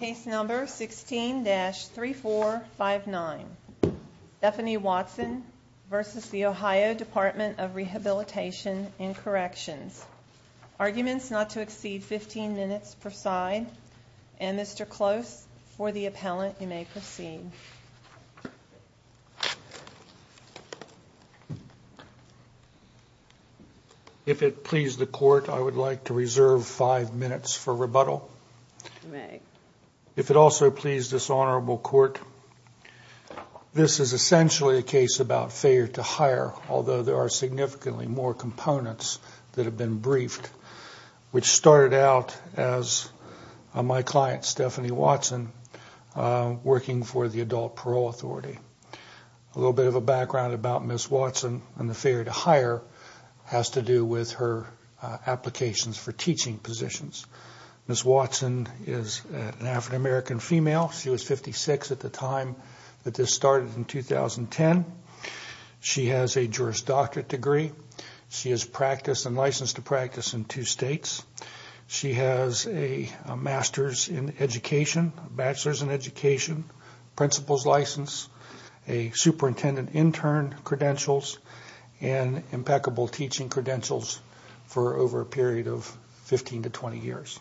Case number 16-3459 Stephanie Watson v. The Ohio Department of Rehabilitation and Corrections Arguments not to exceed 15 minutes preside. And Mr. Close, for the appellant, you may proceed. If it please the court, I would like to reserve five minutes for rebuttal. If it also please this honorable court, this is essentially a case about failure to hire, although there are significantly more components that have been briefed, which started out as my client, Stephanie Watson, working for the Adult Parole Authority. A little bit of a background about Ms. Watson and the failure to hire has to do with her applications for teaching positions. Ms. Watson is an African American female. She was 56 at the time that this started in 2010. She has a Juris Doctorate degree. She is licensed to practice in two states. She has a Masters in Education, Bachelors in Education, Principal's License, a Superintendent Intern Credentials, and Impeccable Teaching Credentials for over a period of 15 to 20 years.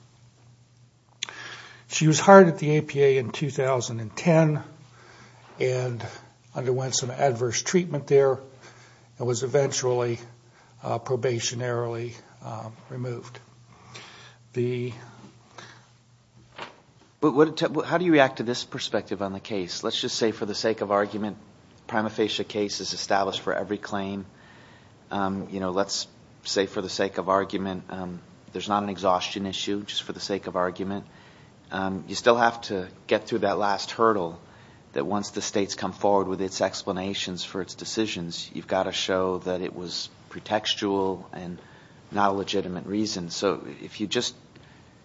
She was hired at the APA in 2010 and underwent some adverse treatment there and was eventually probationarily removed. How do you react to this perspective on the case? Let's just say for the sake of argument, prima facie case is established for every claim. Let's say for the sake of argument, there's not an exhaustion issue, just for the sake of argument. You still have to get through that last hurdle that once the states come forward with its explanations for its decisions, you've got to show that it was pretextual and not a legitimate reason. So if you just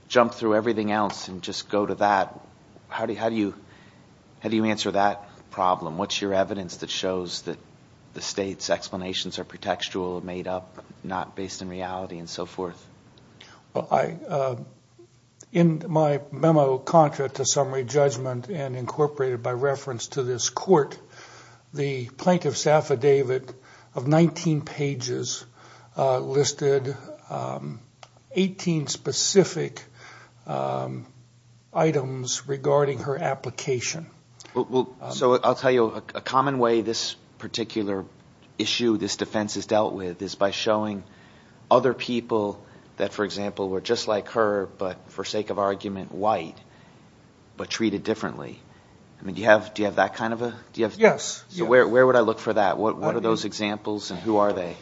jump through everything else and just go to that, how do you answer that problem? What's your evidence that shows that the state's explanations are pretextual, made up, not based in reality, and so forth? In my memo contra to summary judgment and incorporated by reference to this court, the plaintiff's affidavit of 19 pages listed 18 specific items regarding her application. So I'll tell you, a common way this particular issue, this defense is dealt with, is by showing other people that, for example, were just like her, but for sake of argument, white, but treated differently. Do you have that kind of a? Yes. So where would I look for that? What are those examples and who are they?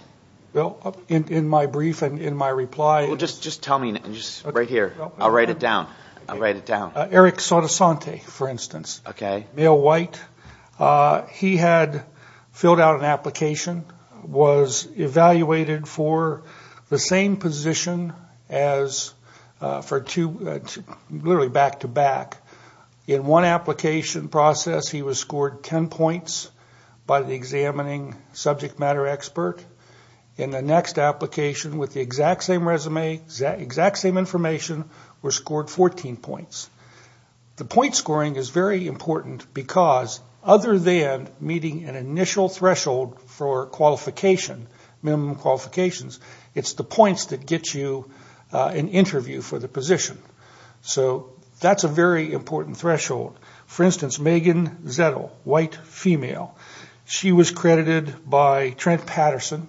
Well, in my brief and in my reply. Well, just tell me. Right here. I'll write it down. I'll write it down. Eric Sotosante, for instance. Okay. Male, white. He had filled out an application, was evaluated for the same position as for two, literally back to back. In one application process, he was scored 10 points by the examining subject matter expert. In the next application, with the exact same resume, exact same information, was scored 14 points. The point scoring is very important because other than meeting an initial threshold for qualification, minimum qualifications, it's the points that get you an interview for the position. So that's a very important threshold. For instance, Megan Zettel, white, female. She was credited by Trent Patterson,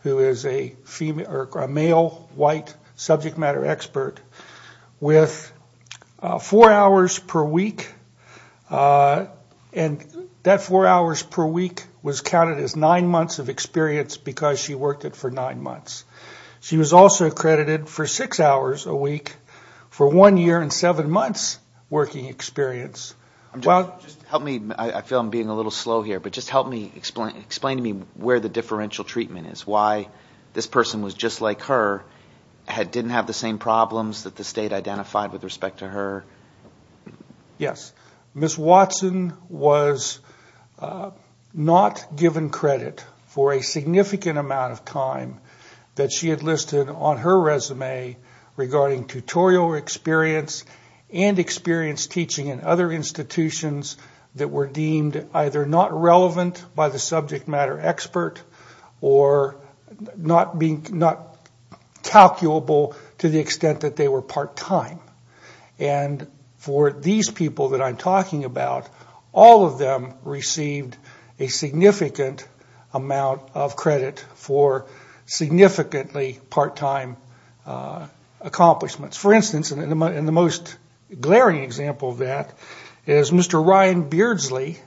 who is a male, white subject matter expert, with four hours per week. And that four hours per week was counted as nine months of experience because she worked it for nine months. She was also credited for six hours a week for one year and seven months working experience. Help me. I feel I'm being a little slow here, but just help me. Explain to me where the differential treatment is, why this person was just like her, didn't have the same problems that the state identified with respect to her. Yes, Ms. Watson was not given credit for a significant amount of time that she had listed on her resume regarding tutorial experience and experience teaching in other institutions that were deemed either not relevant by the subject matter expert or not calculable to the extent that they were part-time. And for these people that I'm talking about, all of them received a significant amount of credit for significantly part-time accomplishments. For instance, and the most glaring example of that is Mr. Ryan Beardsley,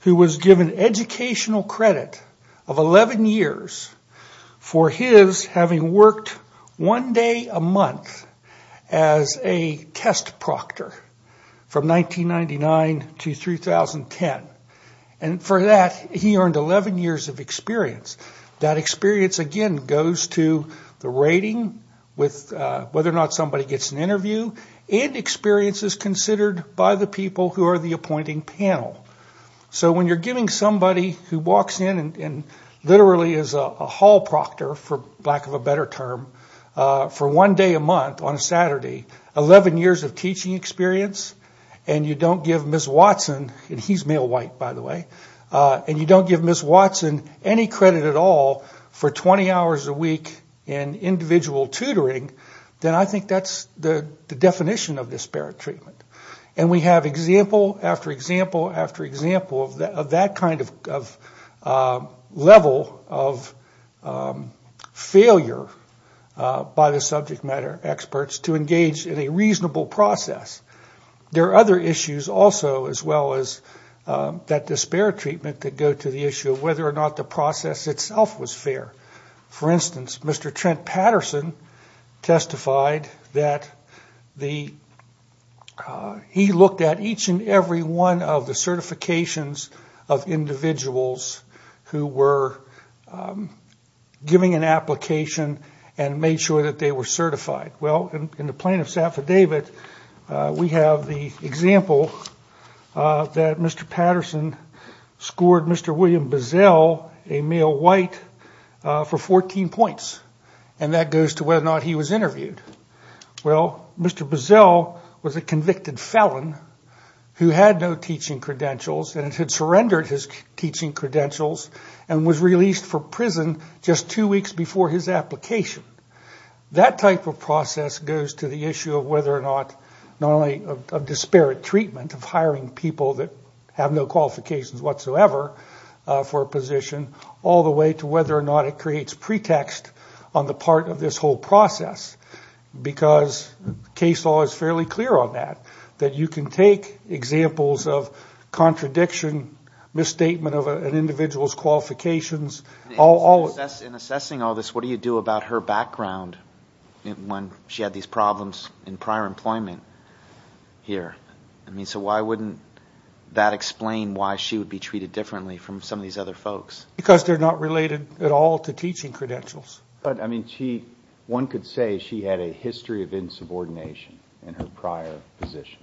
who was given educational credit of 11 years for his having worked one day a month as a test proctor from 1999 to 2010. And for that, he earned 11 years of experience. That experience, again, goes to the rating, whether or not somebody gets an interview, and experiences considered by the people who are the appointing panel. So when you're giving somebody who walks in and literally is a hall proctor, for lack of a better term, for one day a month on a Saturday, 11 years of teaching experience, and you don't give Ms. Watson, and he's male white by the way, and you don't give Ms. Watson any credit at all for 20 hours a week in individual tutoring, then I think that's the definition of disparate treatment. And we have example after example after example of that kind of level of failure by the subject matter experts to engage in a reasonable process. There are other issues also as well as that disparate treatment that go to the issue of whether or not the process itself was fair. For instance, Mr. Trent Patterson testified that he looked at each and every one of the certifications of individuals who were giving an application and made sure that they were certified. Well, in the plaintiff's affidavit, we have the example that Mr. Patterson scored Mr. William Bazell, a male white, for 14 points, and that goes to whether or not he was interviewed. Well, Mr. Bazell was a convicted felon who had no teaching credentials, and had surrendered his teaching credentials, and was released for prison just two weeks before his application. That type of process goes to the issue of whether or not not only of disparate treatment of hiring people that have no qualifications whatsoever for a position, all the way to whether or not it creates pretext on the part of this whole process. Because case law is fairly clear on that, that you can take examples of contradiction, misstatement of an individual's qualifications. In assessing all this, what do you do about her background when she had these problems in prior employment here? I mean, so why wouldn't that explain why she would be treated differently from some of these other folks? Because they're not related at all to teaching credentials. But, I mean, one could say she had a history of insubordination in her prior position,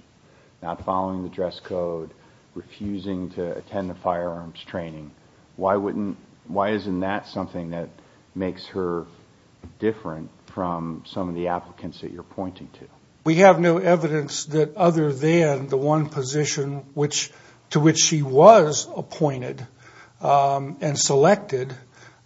not following the dress code, refusing to attend a firearms training. Why isn't that something that makes her different from some of the applicants that you're pointing to? We have no evidence that other than the one position to which she was appointed and selected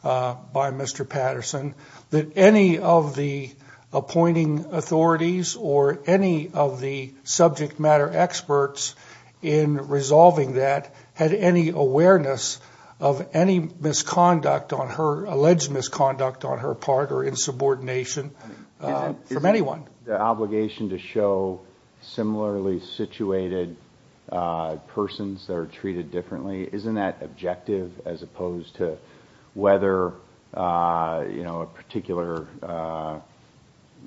by Mr. Patterson, that any of the appointing authorities or any of the subject matter experts in resolving that had any awareness of any misconduct on her, alleged misconduct on her part or insubordination from anyone. The obligation to show similarly situated persons that are treated differently, isn't that objective as opposed to whether a particular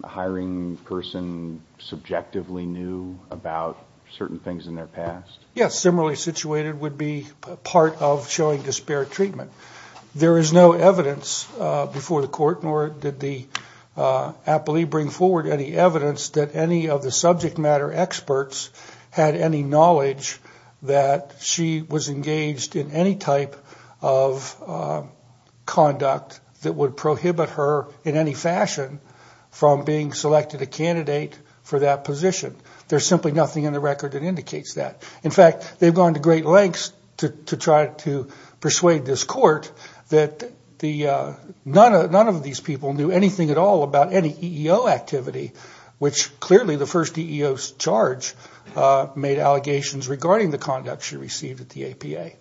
hiring person subjectively knew about certain things in their past? Yes, similarly situated would be part of showing disparate treatment. There is no evidence before the court nor did the appellee bring forward any evidence that any of the subject matter experts had any knowledge that she was engaged in any type of conduct that would prohibit her in any fashion from being selected a candidate for that position. There's simply nothing in the record that indicates that. In fact, they've gone to great lengths to try to persuade this court that none of these people knew anything at all about any EEO activity, which clearly the first EEO charge made allegations regarding the conduct she received at the APA.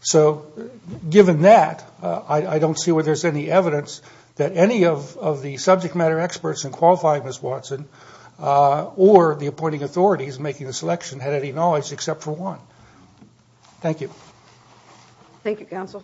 So given that, I don't see where there's any evidence that any of the subject matter experts in qualifying Ms. Watson or the appointing authorities making the selection had any knowledge except for one. Thank you. Thank you, counsel.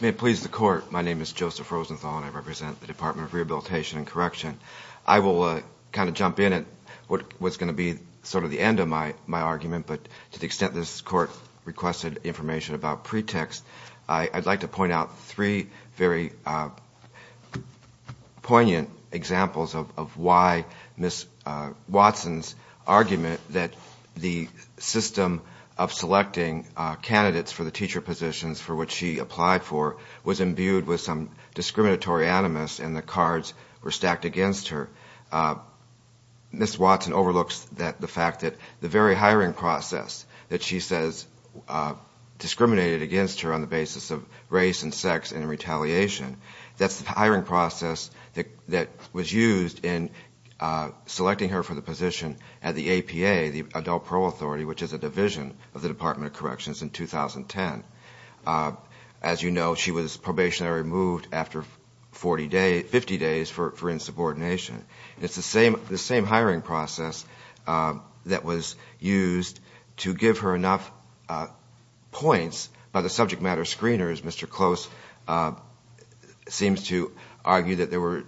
May it please the court, my name is Joseph Rosenthal and I represent the Department of Rehabilitation and Correction. I will kind of jump in at what's going to be sort of the end of my argument, but to the extent this court requested information about pretext, I'd like to point out three very poignant examples of why Ms. Watson's argument that the system of selecting candidates for the teacher positions for which she applied for was imbued with some discriminatory animus and the cards were stacked against her. Ms. Watson overlooks the fact that the very hiring process that she says discriminated against her on the basis of race and sex and retaliation, that's the hiring process that was used in selecting her for the position at the APA, the Adult Parole Authority, which is a division of the Department of Corrections in 2010. As you know, she was probationary removed after 50 days for insubordination. It's the same hiring process that was used to give her enough points by the subject matter screeners. Mr. Close seems to argue that there were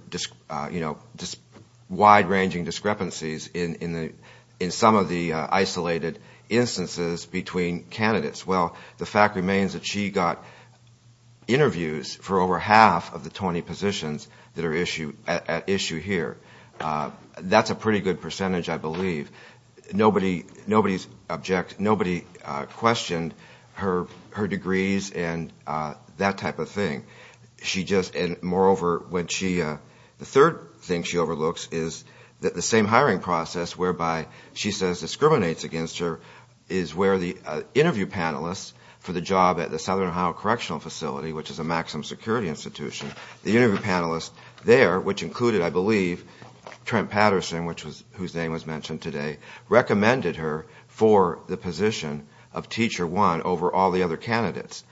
wide-ranging discrepancies in some of the isolated instances between candidates. Well, the fact remains that she got interviews for over half of the 20 positions that are at issue here. That's a pretty good percentage, I believe. Nobody questioned her degrees and that type of thing. Moreover, the third thing she overlooks is the same hiring process whereby she says discriminates against her is where the interview panelists for the job at the Southern Ohio Correctional Facility, which is a maximum security institution, the interview panelists there, which included, I believe, Trent Patterson, whose name was mentioned today, recommended her for the position of Teacher 1 over all the other candidates.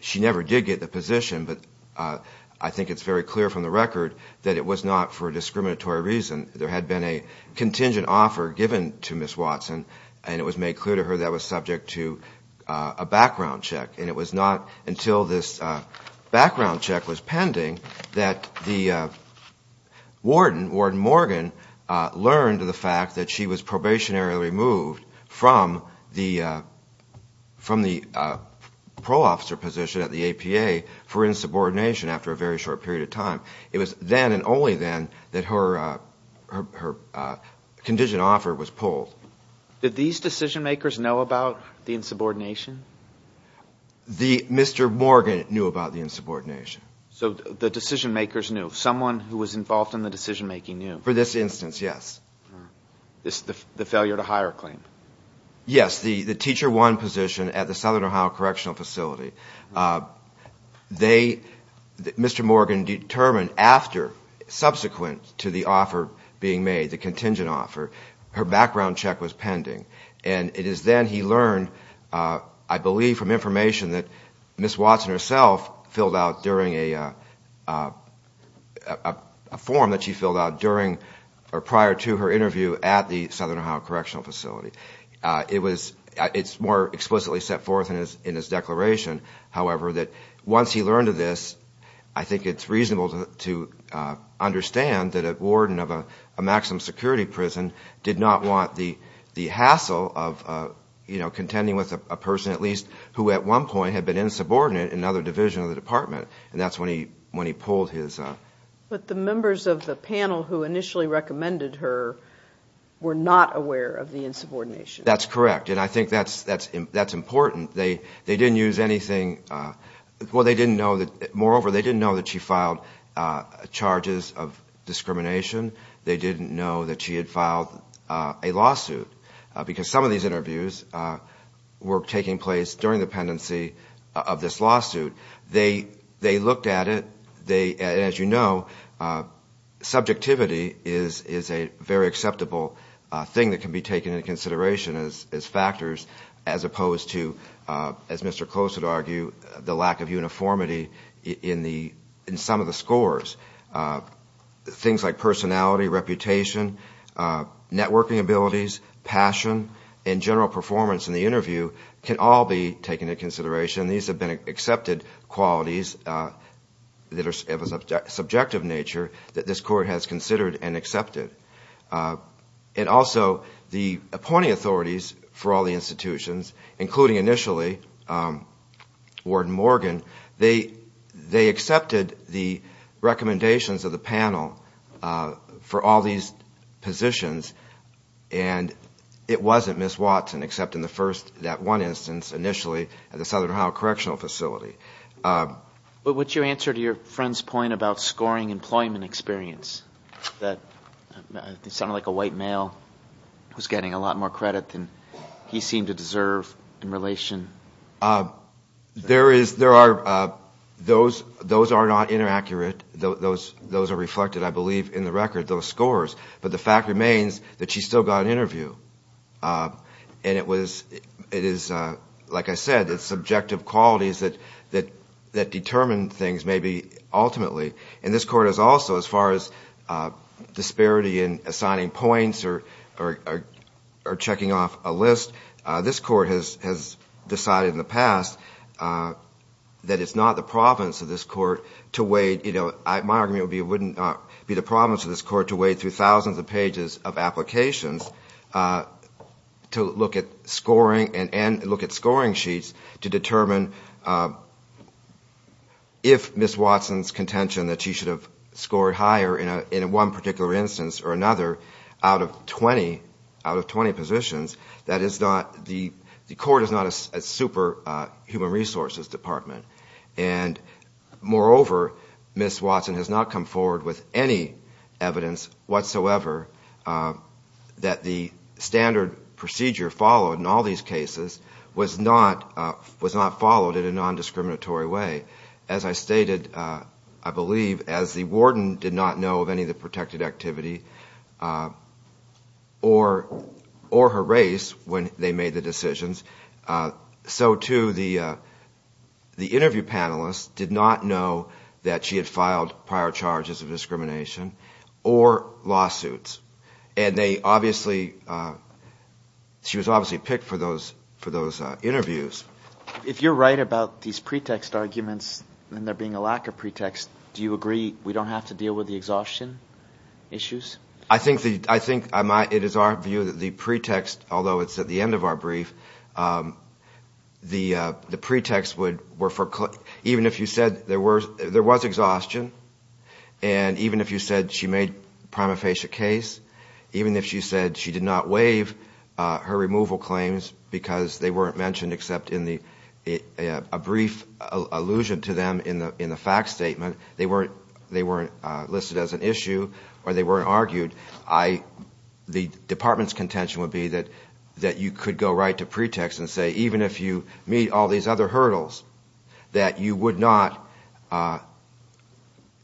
She never did get the position, but I think it's very clear from the record that it was not for a discriminatory reason. There had been a contingent offer given to Ms. Watson, and it was made clear to her that was subject to a background check. And it was not until this background check was pending that the warden, Warden Morgan, learned of the fact that she was probationary removed from the pro-officer position at the APA for insubordination after a very short period of time. It was then and only then that her contingent offer was pulled. Did these decision-makers know about the insubordination? Mr. Morgan knew about the insubordination. So the decision-makers knew. Someone who was involved in the decision-making knew. For this instance, yes. The failure to hire claim. Yes, the Teacher 1 position at the Southern Ohio Correctional Facility. They, Mr. Morgan, determined after, subsequent to the offer being made, the contingent offer, her background check was pending. And it is then he learned, I believe, from information that Ms. Watson herself filled out during a form that she filled out prior to her interview at the Southern Ohio Correctional Facility. It's more explicitly set forth in his declaration, however, that once he learned of this, I think it's reasonable to understand that a warden of a maximum security prison did not want the hassle of contending with a person, at least, who at one point had been insubordinate in another division of the department. And that's when he pulled his... But the members of the panel who initially recommended her were not aware of the insubordination. That's correct. And I think that's important. They didn't use anything – well, they didn't know that – moreover, they didn't know that she filed charges of discrimination. They didn't know that she had filed a lawsuit because some of these interviews were taking place during the pendency of this lawsuit. They looked at it. As you know, subjectivity is a very acceptable thing that can be taken into consideration as factors as opposed to, as Mr. Close would argue, the lack of uniformity in some of the scores. Things like personality, reputation, networking abilities, passion, and general performance in the interview can all be taken into consideration. These have been accepted qualities that are of a subjective nature that this court has considered and accepted. And also, the appointing authorities for all the institutions, including initially Warden Morgan, they accepted the recommendations of the panel for all these positions. And it wasn't Ms. Watson except in the first – that one instance initially at the Southern Ohio Correctional Facility. But what's your answer to your friend's point about scoring employment experience? It sounded like a white male who's getting a lot more credit than he seemed to deserve in relation. There is – there are – those are not inaccurate. Those are reflected, I believe, in the record, those scores. But the fact remains that she still got an interview. And it was – it is, like I said, it's subjective qualities that determine things maybe ultimately. And this court has also, as far as disparity in assigning points or checking off a list, this court has decided in the past that it's not the province of this court to weigh – my argument would be it wouldn't be the province of this court to weigh through thousands of pages of applications to look at scoring and look at scoring sheets to determine if Ms. Watson's contention that she should have scored higher in one particular instance or another out of 20 positions, that is not – the court is not a super human resources department. And moreover, Ms. Watson has not come forward with any evidence whatsoever that the standard procedure followed in all these cases was not followed in a non-discriminatory way. As I stated, I believe, as the warden did not know of any of the protected activity or her race when they made the decisions, so too the interview panelists did not know that she had filed prior charges of discrimination or lawsuits. And they obviously – she was obviously picked for those interviews. If you're right about these pretext arguments and there being a lack of pretext, do you agree we don't have to deal with the exhaustion issues? I think it is our view that the pretext, although it's at the end of our brief, the pretext would – even if you said there was exhaustion and even if you said she made prima facie a case, even if you said she did not waive her removal claims because they weren't mentioned except in a brief allusion to them in the fact statement, they weren't listed as an issue or they weren't argued, the department's contention would be that you could go right to pretext and say, even if you meet all these other hurdles, that you would not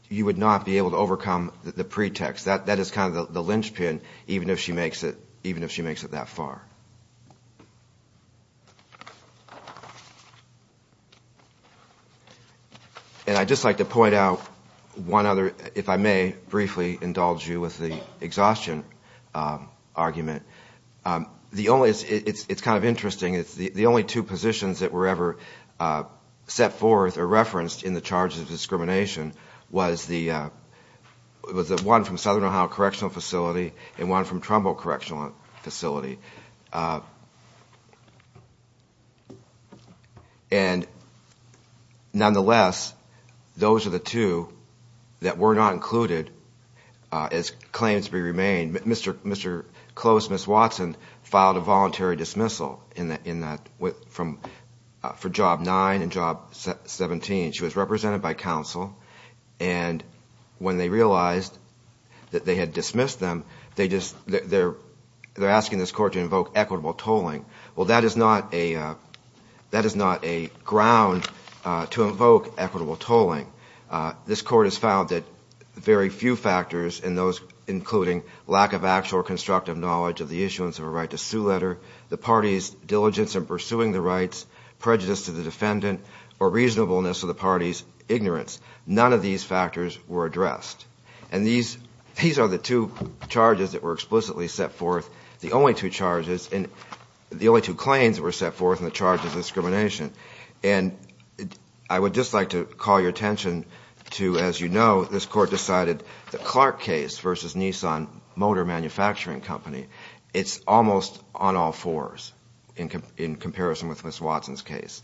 be able to overcome the pretext. That is kind of the linchpin, even if she makes it that far. And I'd just like to point out one other – if I may briefly indulge you with the exhaustion argument. The only – it's kind of interesting – the only two positions that were ever set forth or referenced in the charges of discrimination was the one from Southern Ohio Correctional Facility and one from Trumbo Correctional Facility. And nonetheless, those are the two that were not included as claims be remained. Mr. Close, Ms. Watson, filed a voluntary dismissal in that – for Job 9 and Job 17. She was represented by counsel, and when they realized that they had dismissed them, they just – they're asking this court to invoke equitable tolling. Well, that is not a ground to invoke equitable tolling. This court has found that very few factors, including lack of actual or constructive knowledge of the issuance of a right-to-sue letter, the party's diligence in pursuing the rights, prejudice to the defendant, or reasonableness of the party's ignorance – none of these factors were addressed. And these – these are the two charges that were explicitly set forth. The only two charges – the only two claims that were set forth in the charges of discrimination. And I would just like to call your attention to, as you know, this court decided the Clark case versus Nissan Motor Manufacturing Company. It's almost on all fours in comparison with Ms. Watson's case.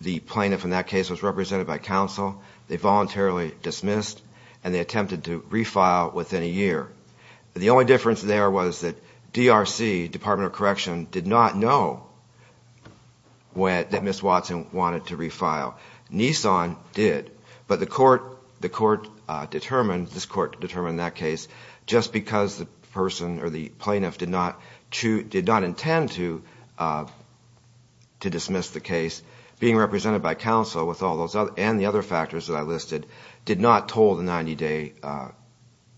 The plaintiff in that case was represented by counsel, they voluntarily dismissed, and they attempted to refile within a year. The only difference there was that DRC, Department of Correction, did not know that Ms. Watson wanted to refile. Nissan did, but the court determined – this court determined in that case, just because the person or the plaintiff did not intend to dismiss Ms. Watson, being represented by counsel and the other factors that I listed, did not toll the 90-day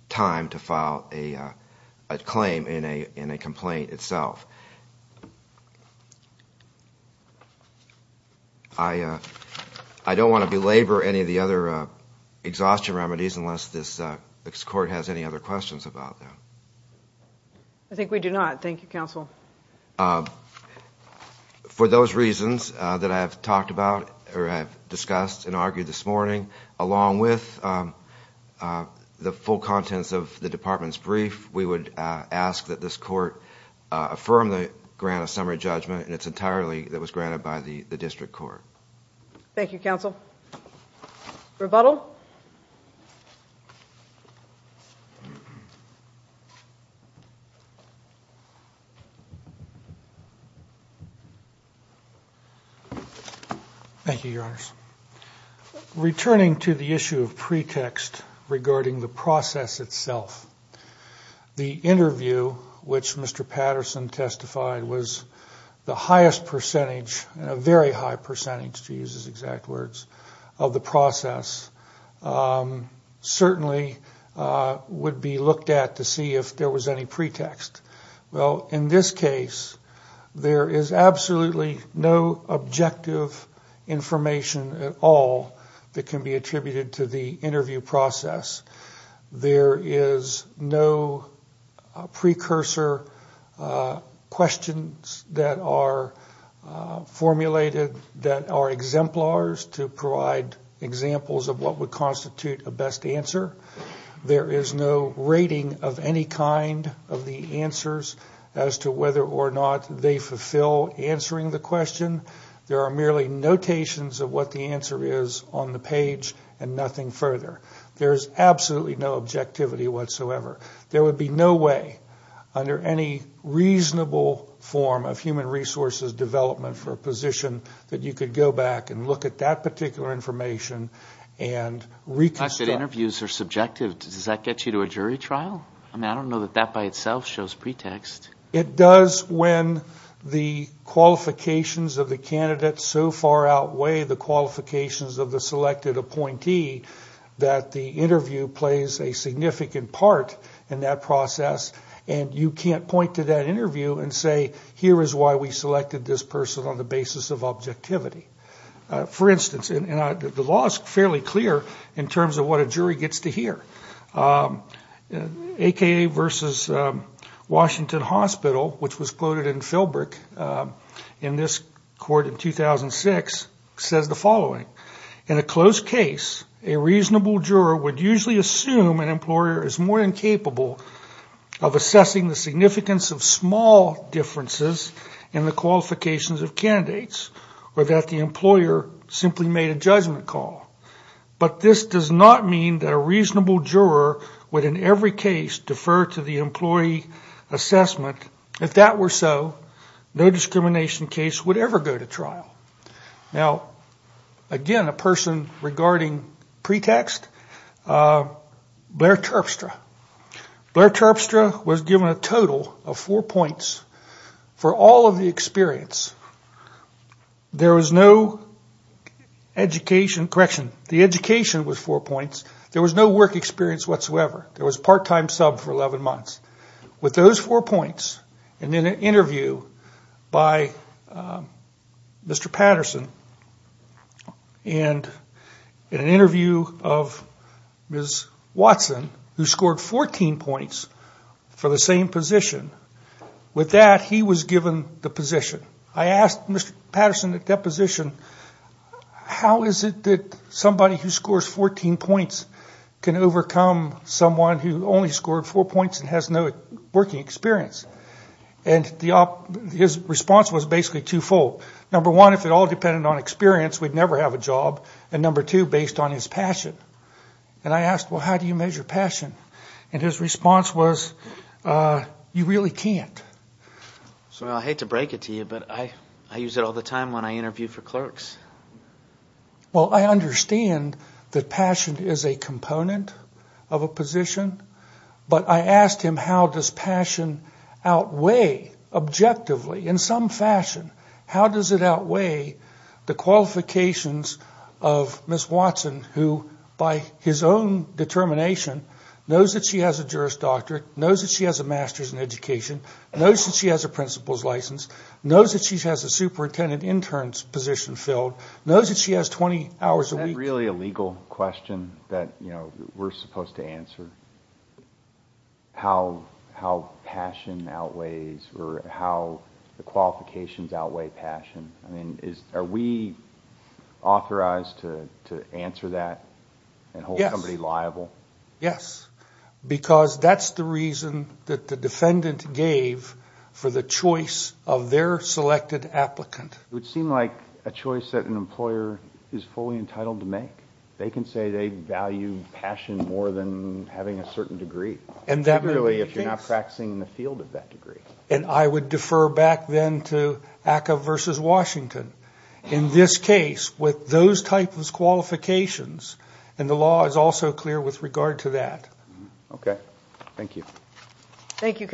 time to file a claim in a complaint itself. I don't want to belabor any of the other exhaustion remedies unless this court has any other questions about them. I think we do not. Thank you, counsel. Thank you, Your Honors. Returning to the issue of pretext regarding the process itself, the interview, which Mr. Patterson testified was the highest percentage – a very high percentage, to use his exact words – of the process. Certainly would be looked at to see if there was any pretext. Well, in this case, there is absolutely no objective information at all that can be attributed to the interview process. There is no precursor questions that are formulated that are exemplars to provide examples of pretext. There is no rating of any kind of the answers as to whether or not they fulfill answering the question. There are merely notations of what the answer is on the page and nothing further. There is absolutely no objectivity whatsoever. There would be no way under any reasonable form of human resources development for a position that you could go back and look at that particular information and reconstruct. Not that interviews are subjective. Does that get you to a jury trial? I mean, I don't know that that by itself shows pretext. It does when the qualifications of the candidate so far outweigh the qualifications of the selected appointee that the interview plays a significant part in the process. And you can't point to that interview and say, here is why we selected this person on the basis of objectivity. For instance, the law is fairly clear in terms of what a jury gets to hear. A.K.A. versus Washington Hospital, which was quoted in Philbrick in this court in 2006, says the following. In a closed case, a reasonable juror would usually assume an employer is more than capable of assessing the significance of small differences in the qualifications of candidates, or that the employer simply made a judgment call. But this does not mean that a reasonable juror would in every case defer to the employee assessment. If that were so, no discrimination case would ever go to trial. Now, again, a person regarding pretext, Blair Terpstra. Blair Terpstra was given a total of four points for all of the experience. There was no education, correction, the education was four points. There was no work experience whatsoever. There was part-time sub for 11 months. With those four points, and then an interview by Mr. Patterson, and an interview of Ms. Watson, who scored 14 points for the same position, with that, he was given the position. I asked Mr. Patterson at that position, how is it that somebody who scores 14 points can overcome someone who only scored four points and has no work experience? And his response was basically twofold. Number one, if it all depended on experience, we'd never have a job. And number two, based on his passion. And I asked, well, how do you measure passion? And his response was, you really can't. So I hate to break it to you, but I use it all the time when I interview for clerks. Well, I understand that passion is a component of a position, but I asked him, how does passion outweigh, objectively, in some fashion, how does it outweigh the qualifications of Ms. Watson, who, by his own determination, knows that she has a Juris Doctorate, knows that she has a Master's in Education, knows that she has a Principal's License, knows that she has a Superintendent Intern's position filled. Is that really a legal question that we're supposed to answer? How passion outweighs or how the qualifications outweigh passion? Are we authorized to answer that and hold somebody liable? Yes. Because that's the reason that the defendant gave for the choice of their selected applicant. It would seem like a choice that an employer is fully entitled to make. They can say they value passion more than having a certain degree, particularly if you're not practicing in the field of that degree. And I would defer back then to ACCA versus Washington. In this case, with those types of qualifications, and the law is also clear with regard to that. Okay. Thank you. Thank you.